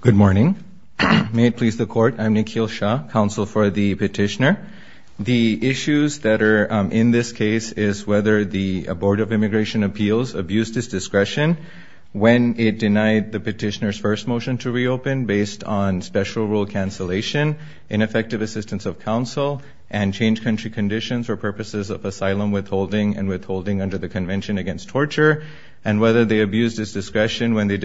Good morning. May it please the court, I'm Nikhil Shah, counsel for the petitioner. The issues that are in this case is whether the Board of Immigration Appeals abused its discretion when it denied the petitioner's first motion to reopen based on special rule cancellation, ineffective assistance of counsel, and changed country conditions for purposes of asylum withholding and withholding under the Convention Against Torture, and whether they abused its discretion when they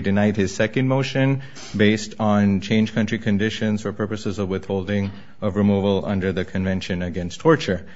denied his second motion based on changed country conditions for purposes of withholding of removal under the Convention Against Torture.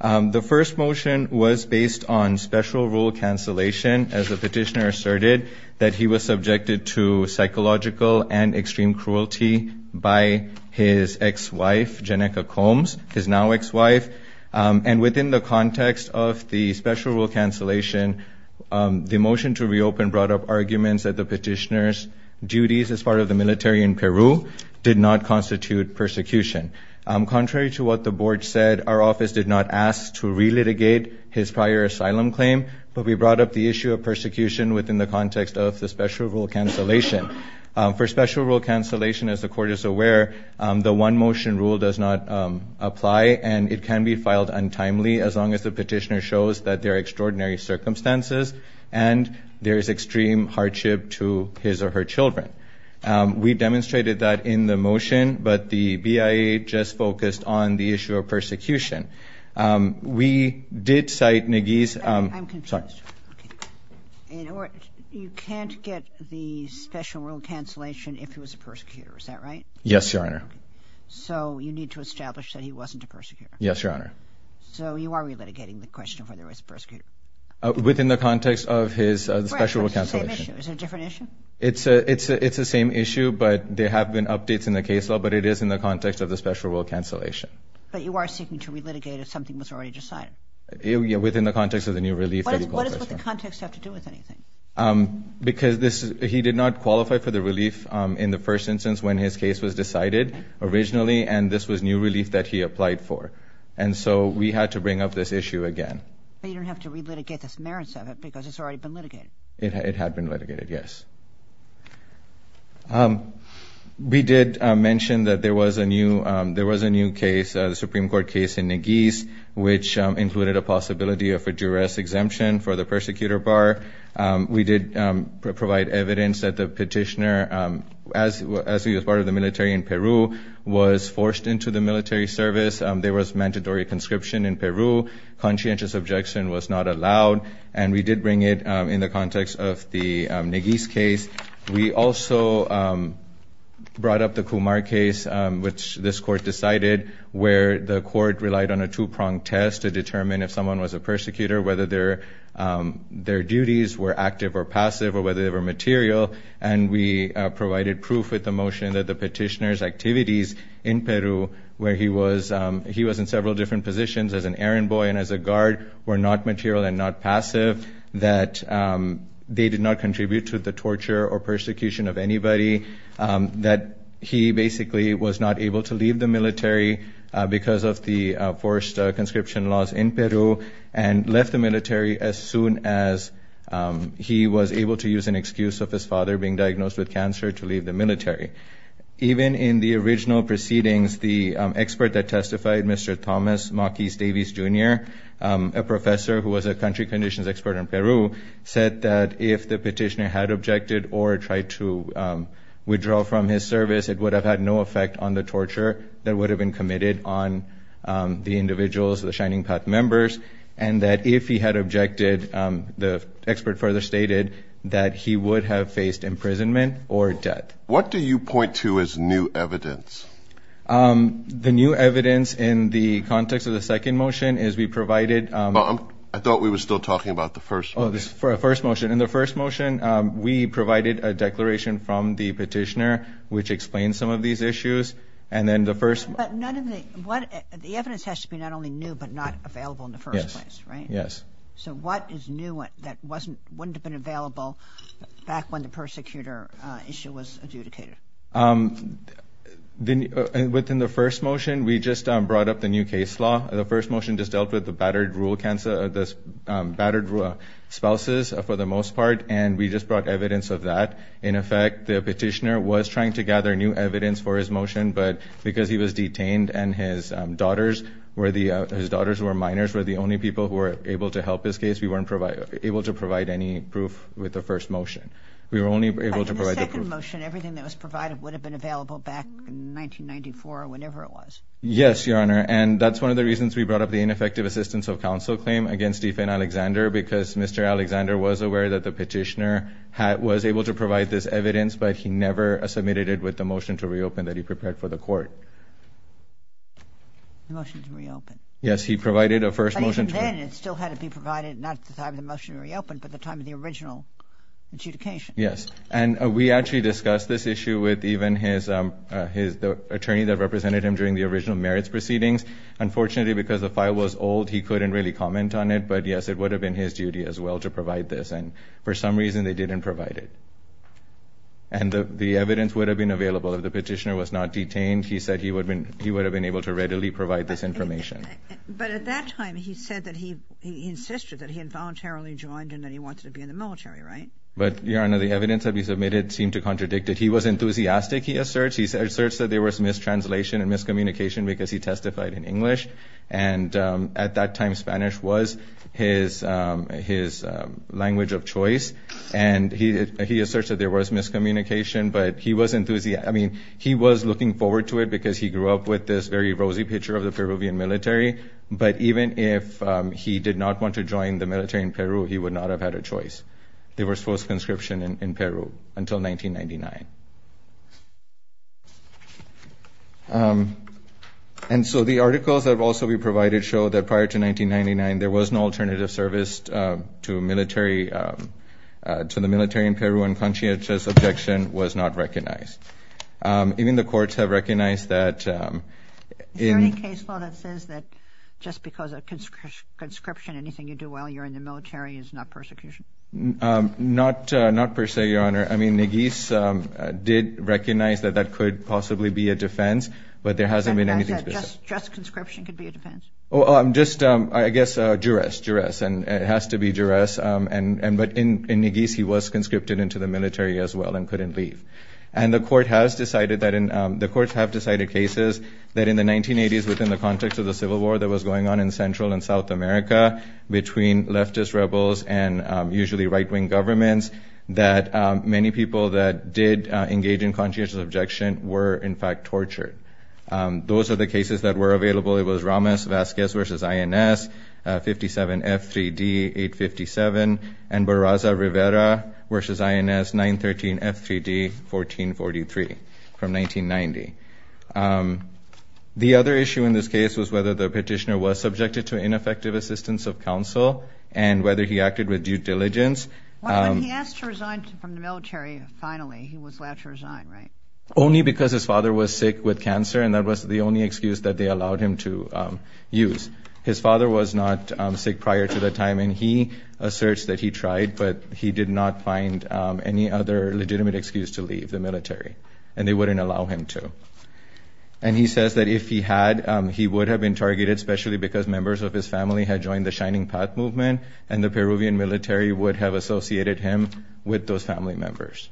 The first motion was based on special rule cancellation as the petitioner asserted that he was subjected to psychological and extreme cruelty by his ex-wife, Jennica Combs, his now ex-wife, and within the context of the special rule cancellation, the motion to reopen brought up arguments that the petitioner's duties as part of the military in Peru did not constitute persecution. Contrary to what the Board said, our office did not ask to relitigate his prior asylum claim, but we brought up the issue of persecution within the context of the special rule cancellation. For special rule cancellation, as the Court is aware, the one-motion rule does not apply, and it can be filed untimely as long as the petitioner shows that there are extraordinary circumstances and there is extreme hardship to his or her children. We demonstrated that in the motion, but the BIA just focused on the issue of persecution. We did cite Naguiz's – I'm confused. You can't get the special rule cancellation if he was a persecutor, is that right? Yes, Your Honor. So you need to establish that he wasn't a persecutor? Yes, Your Honor. So you are relitigating the question of whether he was a persecutor? Within the context of his special rule cancellation. It's the same issue. Is it a different issue? It's the same issue, but there have been updates in the case law, but it is in the context of the special rule cancellation. But you are seeking to relitigate if something was already decided? Within the context of the new relief that he qualified for. What does the context have to do with anything? Because he did not qualify for the relief in the first instance when his case was decided originally, and this was new relief that he applied for. And so we had to bring up this issue again. But you don't have to relitigate the merits of it because it's already been litigated? It had been litigated, yes. We did mention that there was a new case, the Supreme Court case in Neguiz, which included a possibility of a juror's exemption for the persecutor bar. We did provide evidence that the petitioner, as he was part of the military in Peru, was forced into the military service. There was mandatory conscription in Peru. Conscientious objection was not allowed. And we did bring it in the context of the Neguiz case. We also brought up the Kumar case, which this court decided, where the court relied on a two-pronged test to determine if someone was a persecutor, whether their duties were active or passive, or whether they were material. And we provided proof with the motion that the petitioner's activities in Peru, where he was in several different positions as an errand boy and as a guard, were not material and not passive, that they did not contribute to the torture or persecution of anybody, that he basically was not able to leave the military because of the forced conscription laws in Peru, and left the military as soon as he was able to use an excuse of his father being diagnosed with cancer to leave the military. Even in the original proceedings, the expert that testified, Mr. Thomas Mockeys-Davies, Jr., a professor who was a country conditions expert in Peru, said that if the petitioner had objected or tried to withdraw from his service, it would have had no effect on the torture that would have been committed on the individuals, the Shining Path members, and that if he had objected, the expert further stated that he would have faced imprisonment or death. What do you point to as new evidence? The new evidence in the context of the second motion is we provided... I thought we were still talking about the first motion. Oh, the first motion. In the first motion, we provided a declaration from the petitioner, which explained some of these issues. And then the first... But none of the... What... The evidence has to be not only new, but not available in the first place, right? Yes. Yes. So what is new that wouldn't have been available back when the persecutor issue was adjudicated? Within the first motion, we just brought up the new case law. The first motion just dealt with the battered spouses for the most part, and we just brought evidence of that. In effect, the petitioner was trying to gather new evidence for his motion, but because he was detained and his daughters were minors, were the only people who were able to help his case, we weren't able to provide any proof with the first motion. We were only able to provide the proof. But in the second motion, everything that was provided would have been available back in 1994 or whenever it was. Yes, Your Honor. And that's one of the reasons we brought up the ineffective assistance of counsel claim against Stephen Alexander, because Mr. Alexander was aware that the petitioner was able to provide this evidence, but he never submitted it with the motion to reopen that he prepared for the court. The motion to reopen. Yes. He provided a first motion to... Even then, it still had to be provided, not at the time of the motion to reopen, but at the time of the original adjudication. Yes. And we actually discussed this issue with even his attorney that represented him during the original merits proceedings. Unfortunately, because the file was old, he couldn't really comment on it. But yes, it would have been his duty as well to provide this. And for some reason, they didn't provide it. And the evidence would have been available. If the petitioner was not detained, he said he would have been able to readily provide this information. But at that time, he said that he insisted that he involuntarily joined and that he wanted to be in the military, right? But Your Honor, the evidence that we submitted seemed to contradict it. He was enthusiastic, he asserts. He asserts that there was mistranslation and miscommunication because he testified in English. And at that time, Spanish was his language of choice. And he asserts that there was miscommunication, but he was enthusiastic. I mean, he was looking forward to it because he grew up with this very rosy picture of the Peruvian military. But even if he did not want to join the military in Peru, he would not have had a choice. There was false conscription in Peru until 1999. And so the articles that have also been provided show that prior to 1999, there was no alternative service to the military in Peru, and Conchita's objection was not recognized. Even the courts have recognized that. Is there any case law that says that just because of conscription, anything you do while you're in the military is not persecution? Not per se, Your Honor. I mean, Neguiz did recognize that that could possibly be a defense, but there hasn't been anything specific. Just conscription could be a defense? Just, I guess, duress, duress. And it has to be duress. But in Neguiz, he was conscripted into the military as well and couldn't leave. And the courts have decided cases that in the 1980s, within the context of the Civil War that was going on in Central and South America, between leftist rebels and usually right-wing governments, that many people that did engage in Conchita's objection were in fact tortured. Those are the cases that were available. It was Ramos-Vazquez v. INS, 57 F3D, 857, and Barraza-Rivera v. INS, 913 F3D, 1443, from 1990. The other issue in this case was whether the petitioner was subjected to ineffective assistance of counsel and whether he acted with due diligence. When he asked to resign from the military, finally, he was allowed to resign, right? Only because his father was sick with cancer, and that was the only excuse that they allowed him to use. His father was not sick prior to that time, and he asserts that he tried, but he did not find any other legitimate excuse to leave the military. And they wouldn't allow him to. And he says that if he had, he would have been targeted, especially because members of his family had joined the Shining Path Movement, and the Peruvian military would have associated him with those family members.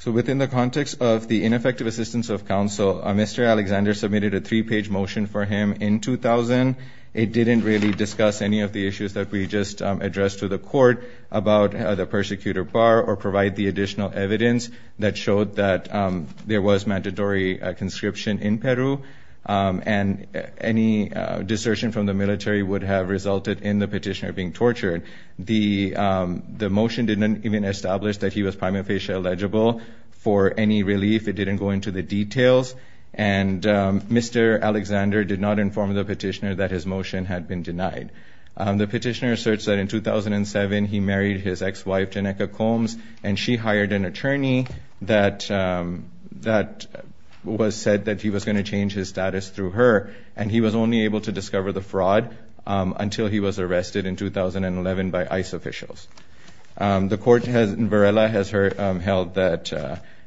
So, within the context of the ineffective assistance of counsel, Mr. Alexander submitted a three-page motion for him in 2000. It didn't really discuss any of the issues that we just addressed to the court about the persecutor, Barr, or provide the additional evidence that showed that there was mandatory conscription in Peru, and any desertion from the military would have resulted in the petitioner being tortured. The motion didn't even establish that he was prima facie eligible for any relief. It didn't go into the details, and Mr. Alexander did not inform the petitioner that his motion had been denied. The petitioner asserts that in 2007, he married his ex-wife, Janneka Combs, and she hired an attorney that said that he was going to change his status through her, and he was only able to discover the fraud until he was arrested in 2011 by ICE officials. The court in Varela has held that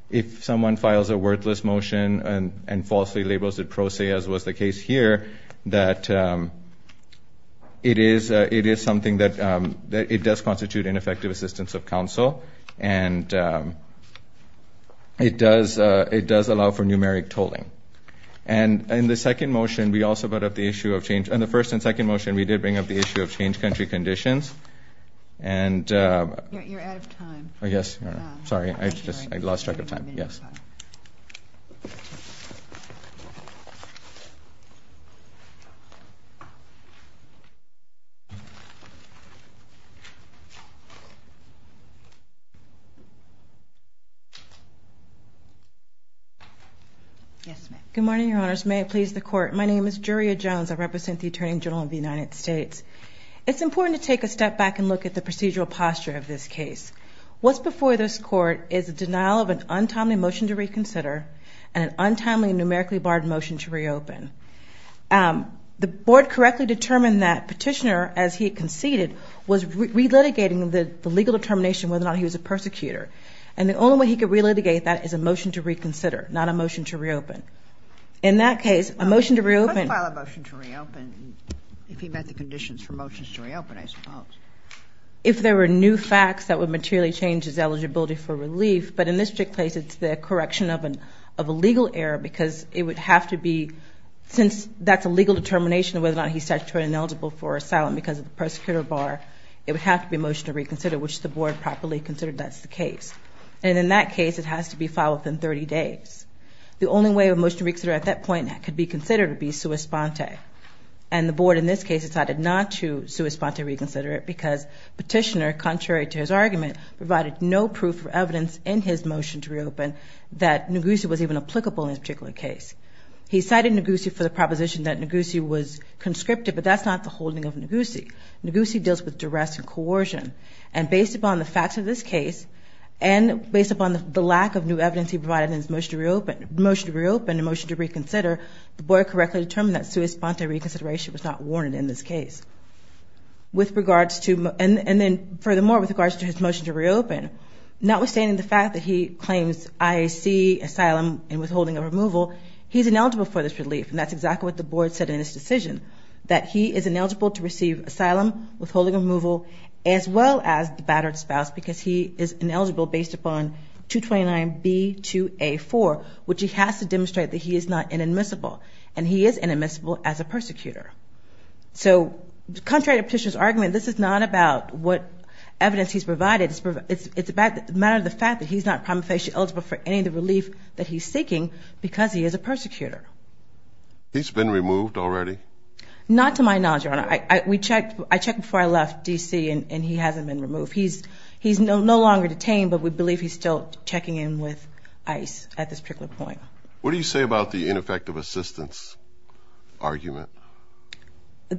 if someone files a worthless motion and falsely labels it pro se, as was the case here, that it is something that does constitute ineffective assistance of counsel, and it does allow for numeric tolling. And in the second motion, we also brought up the issue of change. In the first and second motion, we did bring up the issue of change country conditions, and – You're out of time. Oh, yes. Sorry. I just – I lost track of time. Yes. Good morning, Your Honors. May it please the Court. My name is Juria Jones. I represent the Attorney General of the United States. It's important to take a step back and look at the procedural posture of this case. What's before this Court is a denial of an untimely motion to reconsider and an untimely numerically barred motion to reopen. The Board correctly determined that Petitioner, as he had conceded, was relitigating the legal determination whether or not he was a persecutor. And the only way he could relitigate that is a motion to reconsider, not a motion to reopen. In that case, a motion to reopen – He could file a motion to reopen if he met the conditions for motions to reopen, I suppose. If there were new facts that would materially change his eligibility for relief, but in this particular case, it's the correction of a legal error because it would have to be – since that's a legal determination of whether or not he's statutorily ineligible for asylum because of the persecutor bar, it would have to be a motion to reconsider, which the Board properly considered that's the case. And in that case, it has to be filed within 30 days. The only way a motion to reconsider at that point could be considered would be sua sponte. And the Board, in this case, decided not to sua sponte reconsider it because Petitioner, contrary to his argument, provided no proof or evidence in his motion to reopen that Ngousi was even applicable in this particular case. He cited Ngousi for the proposition that Ngousi was conscripted, but that's not the holding of Ngousi. Ngousi deals with duress and coercion. And based upon the facts of this case and based upon the lack of new evidence he provided in his motion to reopen – motion to reopen and motion to reconsider, the Board correctly determined that sua sponte reconsideration was not warranted in this case. With regards to – and then, furthermore, with regards to his motion to reopen, not withstanding the fact that he claims IAC asylum and withholding of removal, he's ineligible for this relief. And that's exactly what the Board said in its decision, that he is ineligible to receive asylum, withholding of removal, as well as the battered spouse because he is ineligible based upon 229B2A4, which he has to demonstrate that he is not inadmissible. And he is inadmissible as a persecutor. So contrary to Petitioner's argument, this is not about what evidence he's provided. It's about the matter of the fact that he's not prima facie eligible for any of the relief that he's seeking because he is a persecutor. He's been removed already? Not to my knowledge, Your Honor. I – we checked – I checked before I left D.C. and he hasn't been removed. He's – he's no longer detained, but we believe he's still checking in with ICE at this particular point. What do you say about the ineffective assistance argument?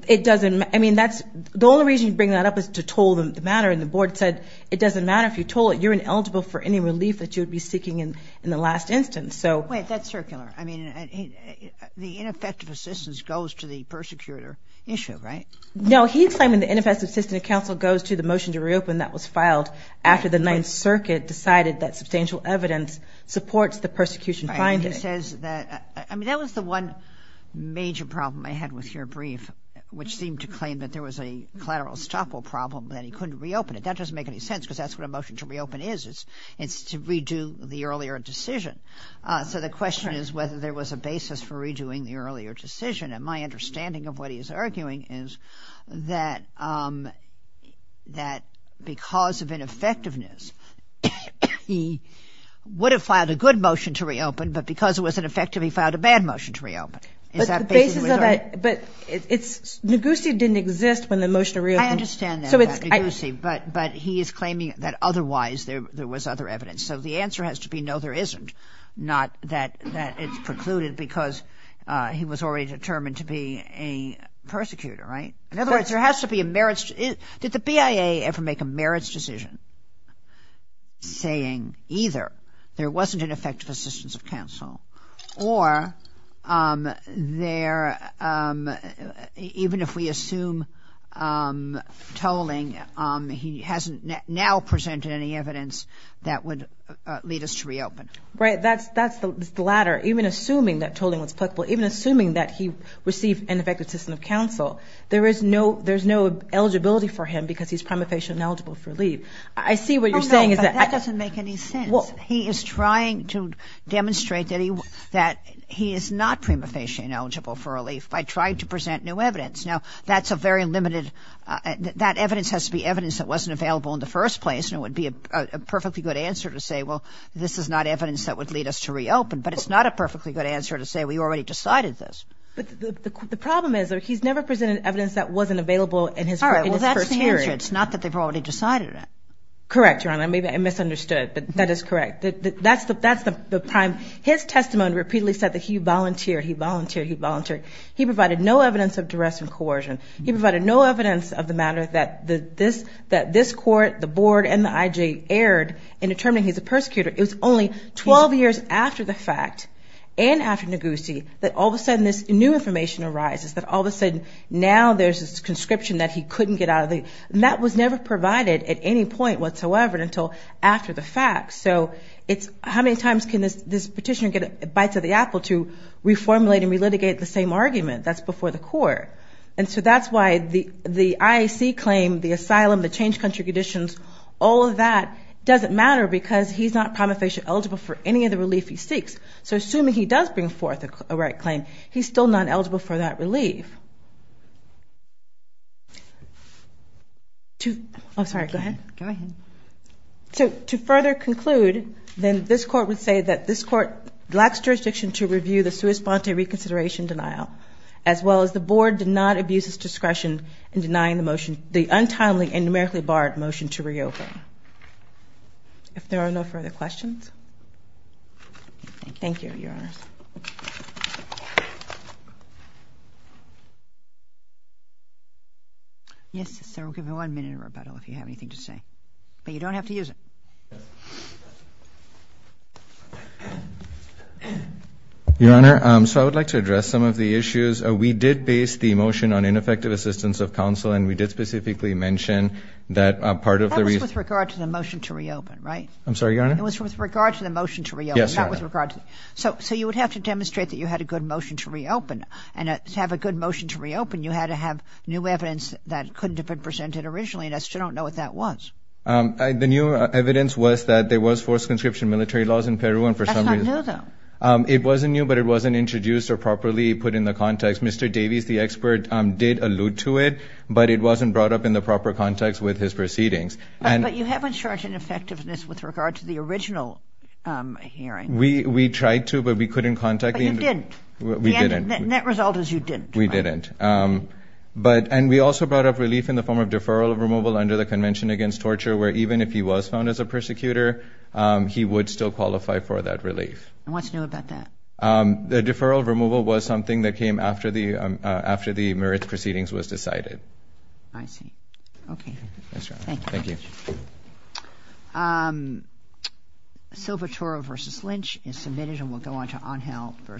It doesn't – I mean, that's – the only reason you bring that up is to toll the matter, and the Board said it doesn't matter if you toll it, you're ineligible for any relief that you'd be seeking in the last instance. So – Wait, that's circular. I mean, the ineffective assistance goes to the persecutor issue, right? No, he's claiming the ineffective assistance of counsel goes to the motion to reopen that was filed after the Ninth Circuit decided that substantial evidence supports the persecution finding. Right. He says that – I mean, that was the one major problem I had with your brief, which seemed to claim that there was a collateral estoppel problem, that he couldn't reopen it. That doesn't make any sense because that's what a motion to reopen is, it's to redo the earlier decision. So the question is whether there was a basis for redoing the earlier decision, and my understanding of what he's arguing is that – that because of ineffectiveness, he would have filed a good motion to reopen, but because it wasn't effective, he filed a bad motion to reopen. Is that basically what he's arguing? But the basis of that – but it's – Ngozi didn't exist when the motion to reopen – I understand that, Ngozi, but he is claiming that otherwise there was other evidence. So the answer has to be no, there isn't, not that it's precluded because he was already determined to be a persecutor, right? In other words, there has to be a merits – did the BIA ever make a merits decision saying either there wasn't an effective assistance of counsel or there – even if we assume tolling, he hasn't now presented any evidence that would lead us to reopen. Right, that's the latter. Even assuming that tolling was applicable, even assuming that he received an effective assistance of counsel, there is no eligibility for him because he's prima facie ineligible for leave. I see what you're saying is that – It doesn't make sense. He is trying to demonstrate that he is not prima facie ineligible for relief by trying to present new evidence. Now, that's a very limited – that evidence has to be evidence that wasn't available in the first place and it would be a perfectly good answer to say, well, this is not evidence that would lead us to reopen, but it's not a perfectly good answer to say we already decided this. But the problem is that he's never presented evidence that wasn't available in his first period. All right, well, that's the answer. It's not that they've already decided it. Correct, Your Honor. I may have misunderstood, but that is correct. That's the prime – his testimony repeatedly said that he volunteered, he volunteered, he volunteered. He provided no evidence of duress and coercion. He provided no evidence of the matter that this court, the board, and the IJ erred in determining he's a persecutor. It was only 12 years after the fact and after Negussie that all of a sudden this new information arises, that all of a sudden now there's this conscription that he couldn't get out of the – and that was never provided at any point whatsoever until after the fact. So it's how many times can this petitioner get a bite to the apple to reformulate and re-litigate the same argument that's before the court? And so that's why the IAC claim, the asylum, the changed country conditions, all of that doesn't matter because he's not prima facie eligible for any of the relief he seeks. So assuming he does bring forth a right claim, he's still not eligible for that relief. To – oh, sorry, go ahead. Go ahead. So to further conclude, then this court would say that this court lacks jurisdiction to review the sua sponte reconsideration denial, as well as the board did not abuse its discretion in denying the motion – the untimely and numerically barred motion to reopen. If there are no further questions. Thank you. Thank you. Thank you. Yes, sir. We'll give you one minute of rebuttal if you have anything to say, but you don't have to use it. Your Honor, so I would like to address some of the issues. We did base the motion on ineffective assistance of counsel and we did specifically mention that part of the – That was with regard to the motion to reopen, right? I'm sorry, Your Honor? It was with regard to the motion to reopen. Yes, Your Honor. Not with regard to – so you would have to demonstrate that you had a good motion to reopen. You had to have new evidence that couldn't have been presented originally and I still don't know what that was. The new evidence was that there was forced conscription military laws in Peru and for some reason – That's not new, though. It wasn't new, but it wasn't introduced or properly put in the context. Mr. Davies, the expert, did allude to it, but it wasn't brought up in the proper context with his proceedings. But you haven't shown an effectiveness with regard to the original hearing. We tried to, but we couldn't contact the – But you didn't. We didn't. The net result is you didn't. We didn't. But – and we also brought up relief in the form of deferral of removal under the Convention Against Torture, where even if he was found as a persecutor, he would still qualify for that relief. And what's new about that? The deferral of removal was something that came after the – after the merit proceedings was decided. I see. Okay. Thanks, Your Honor. Thank you. Thank you. Silva-Toro v. Lynch is submitted and we'll go on to Angel v.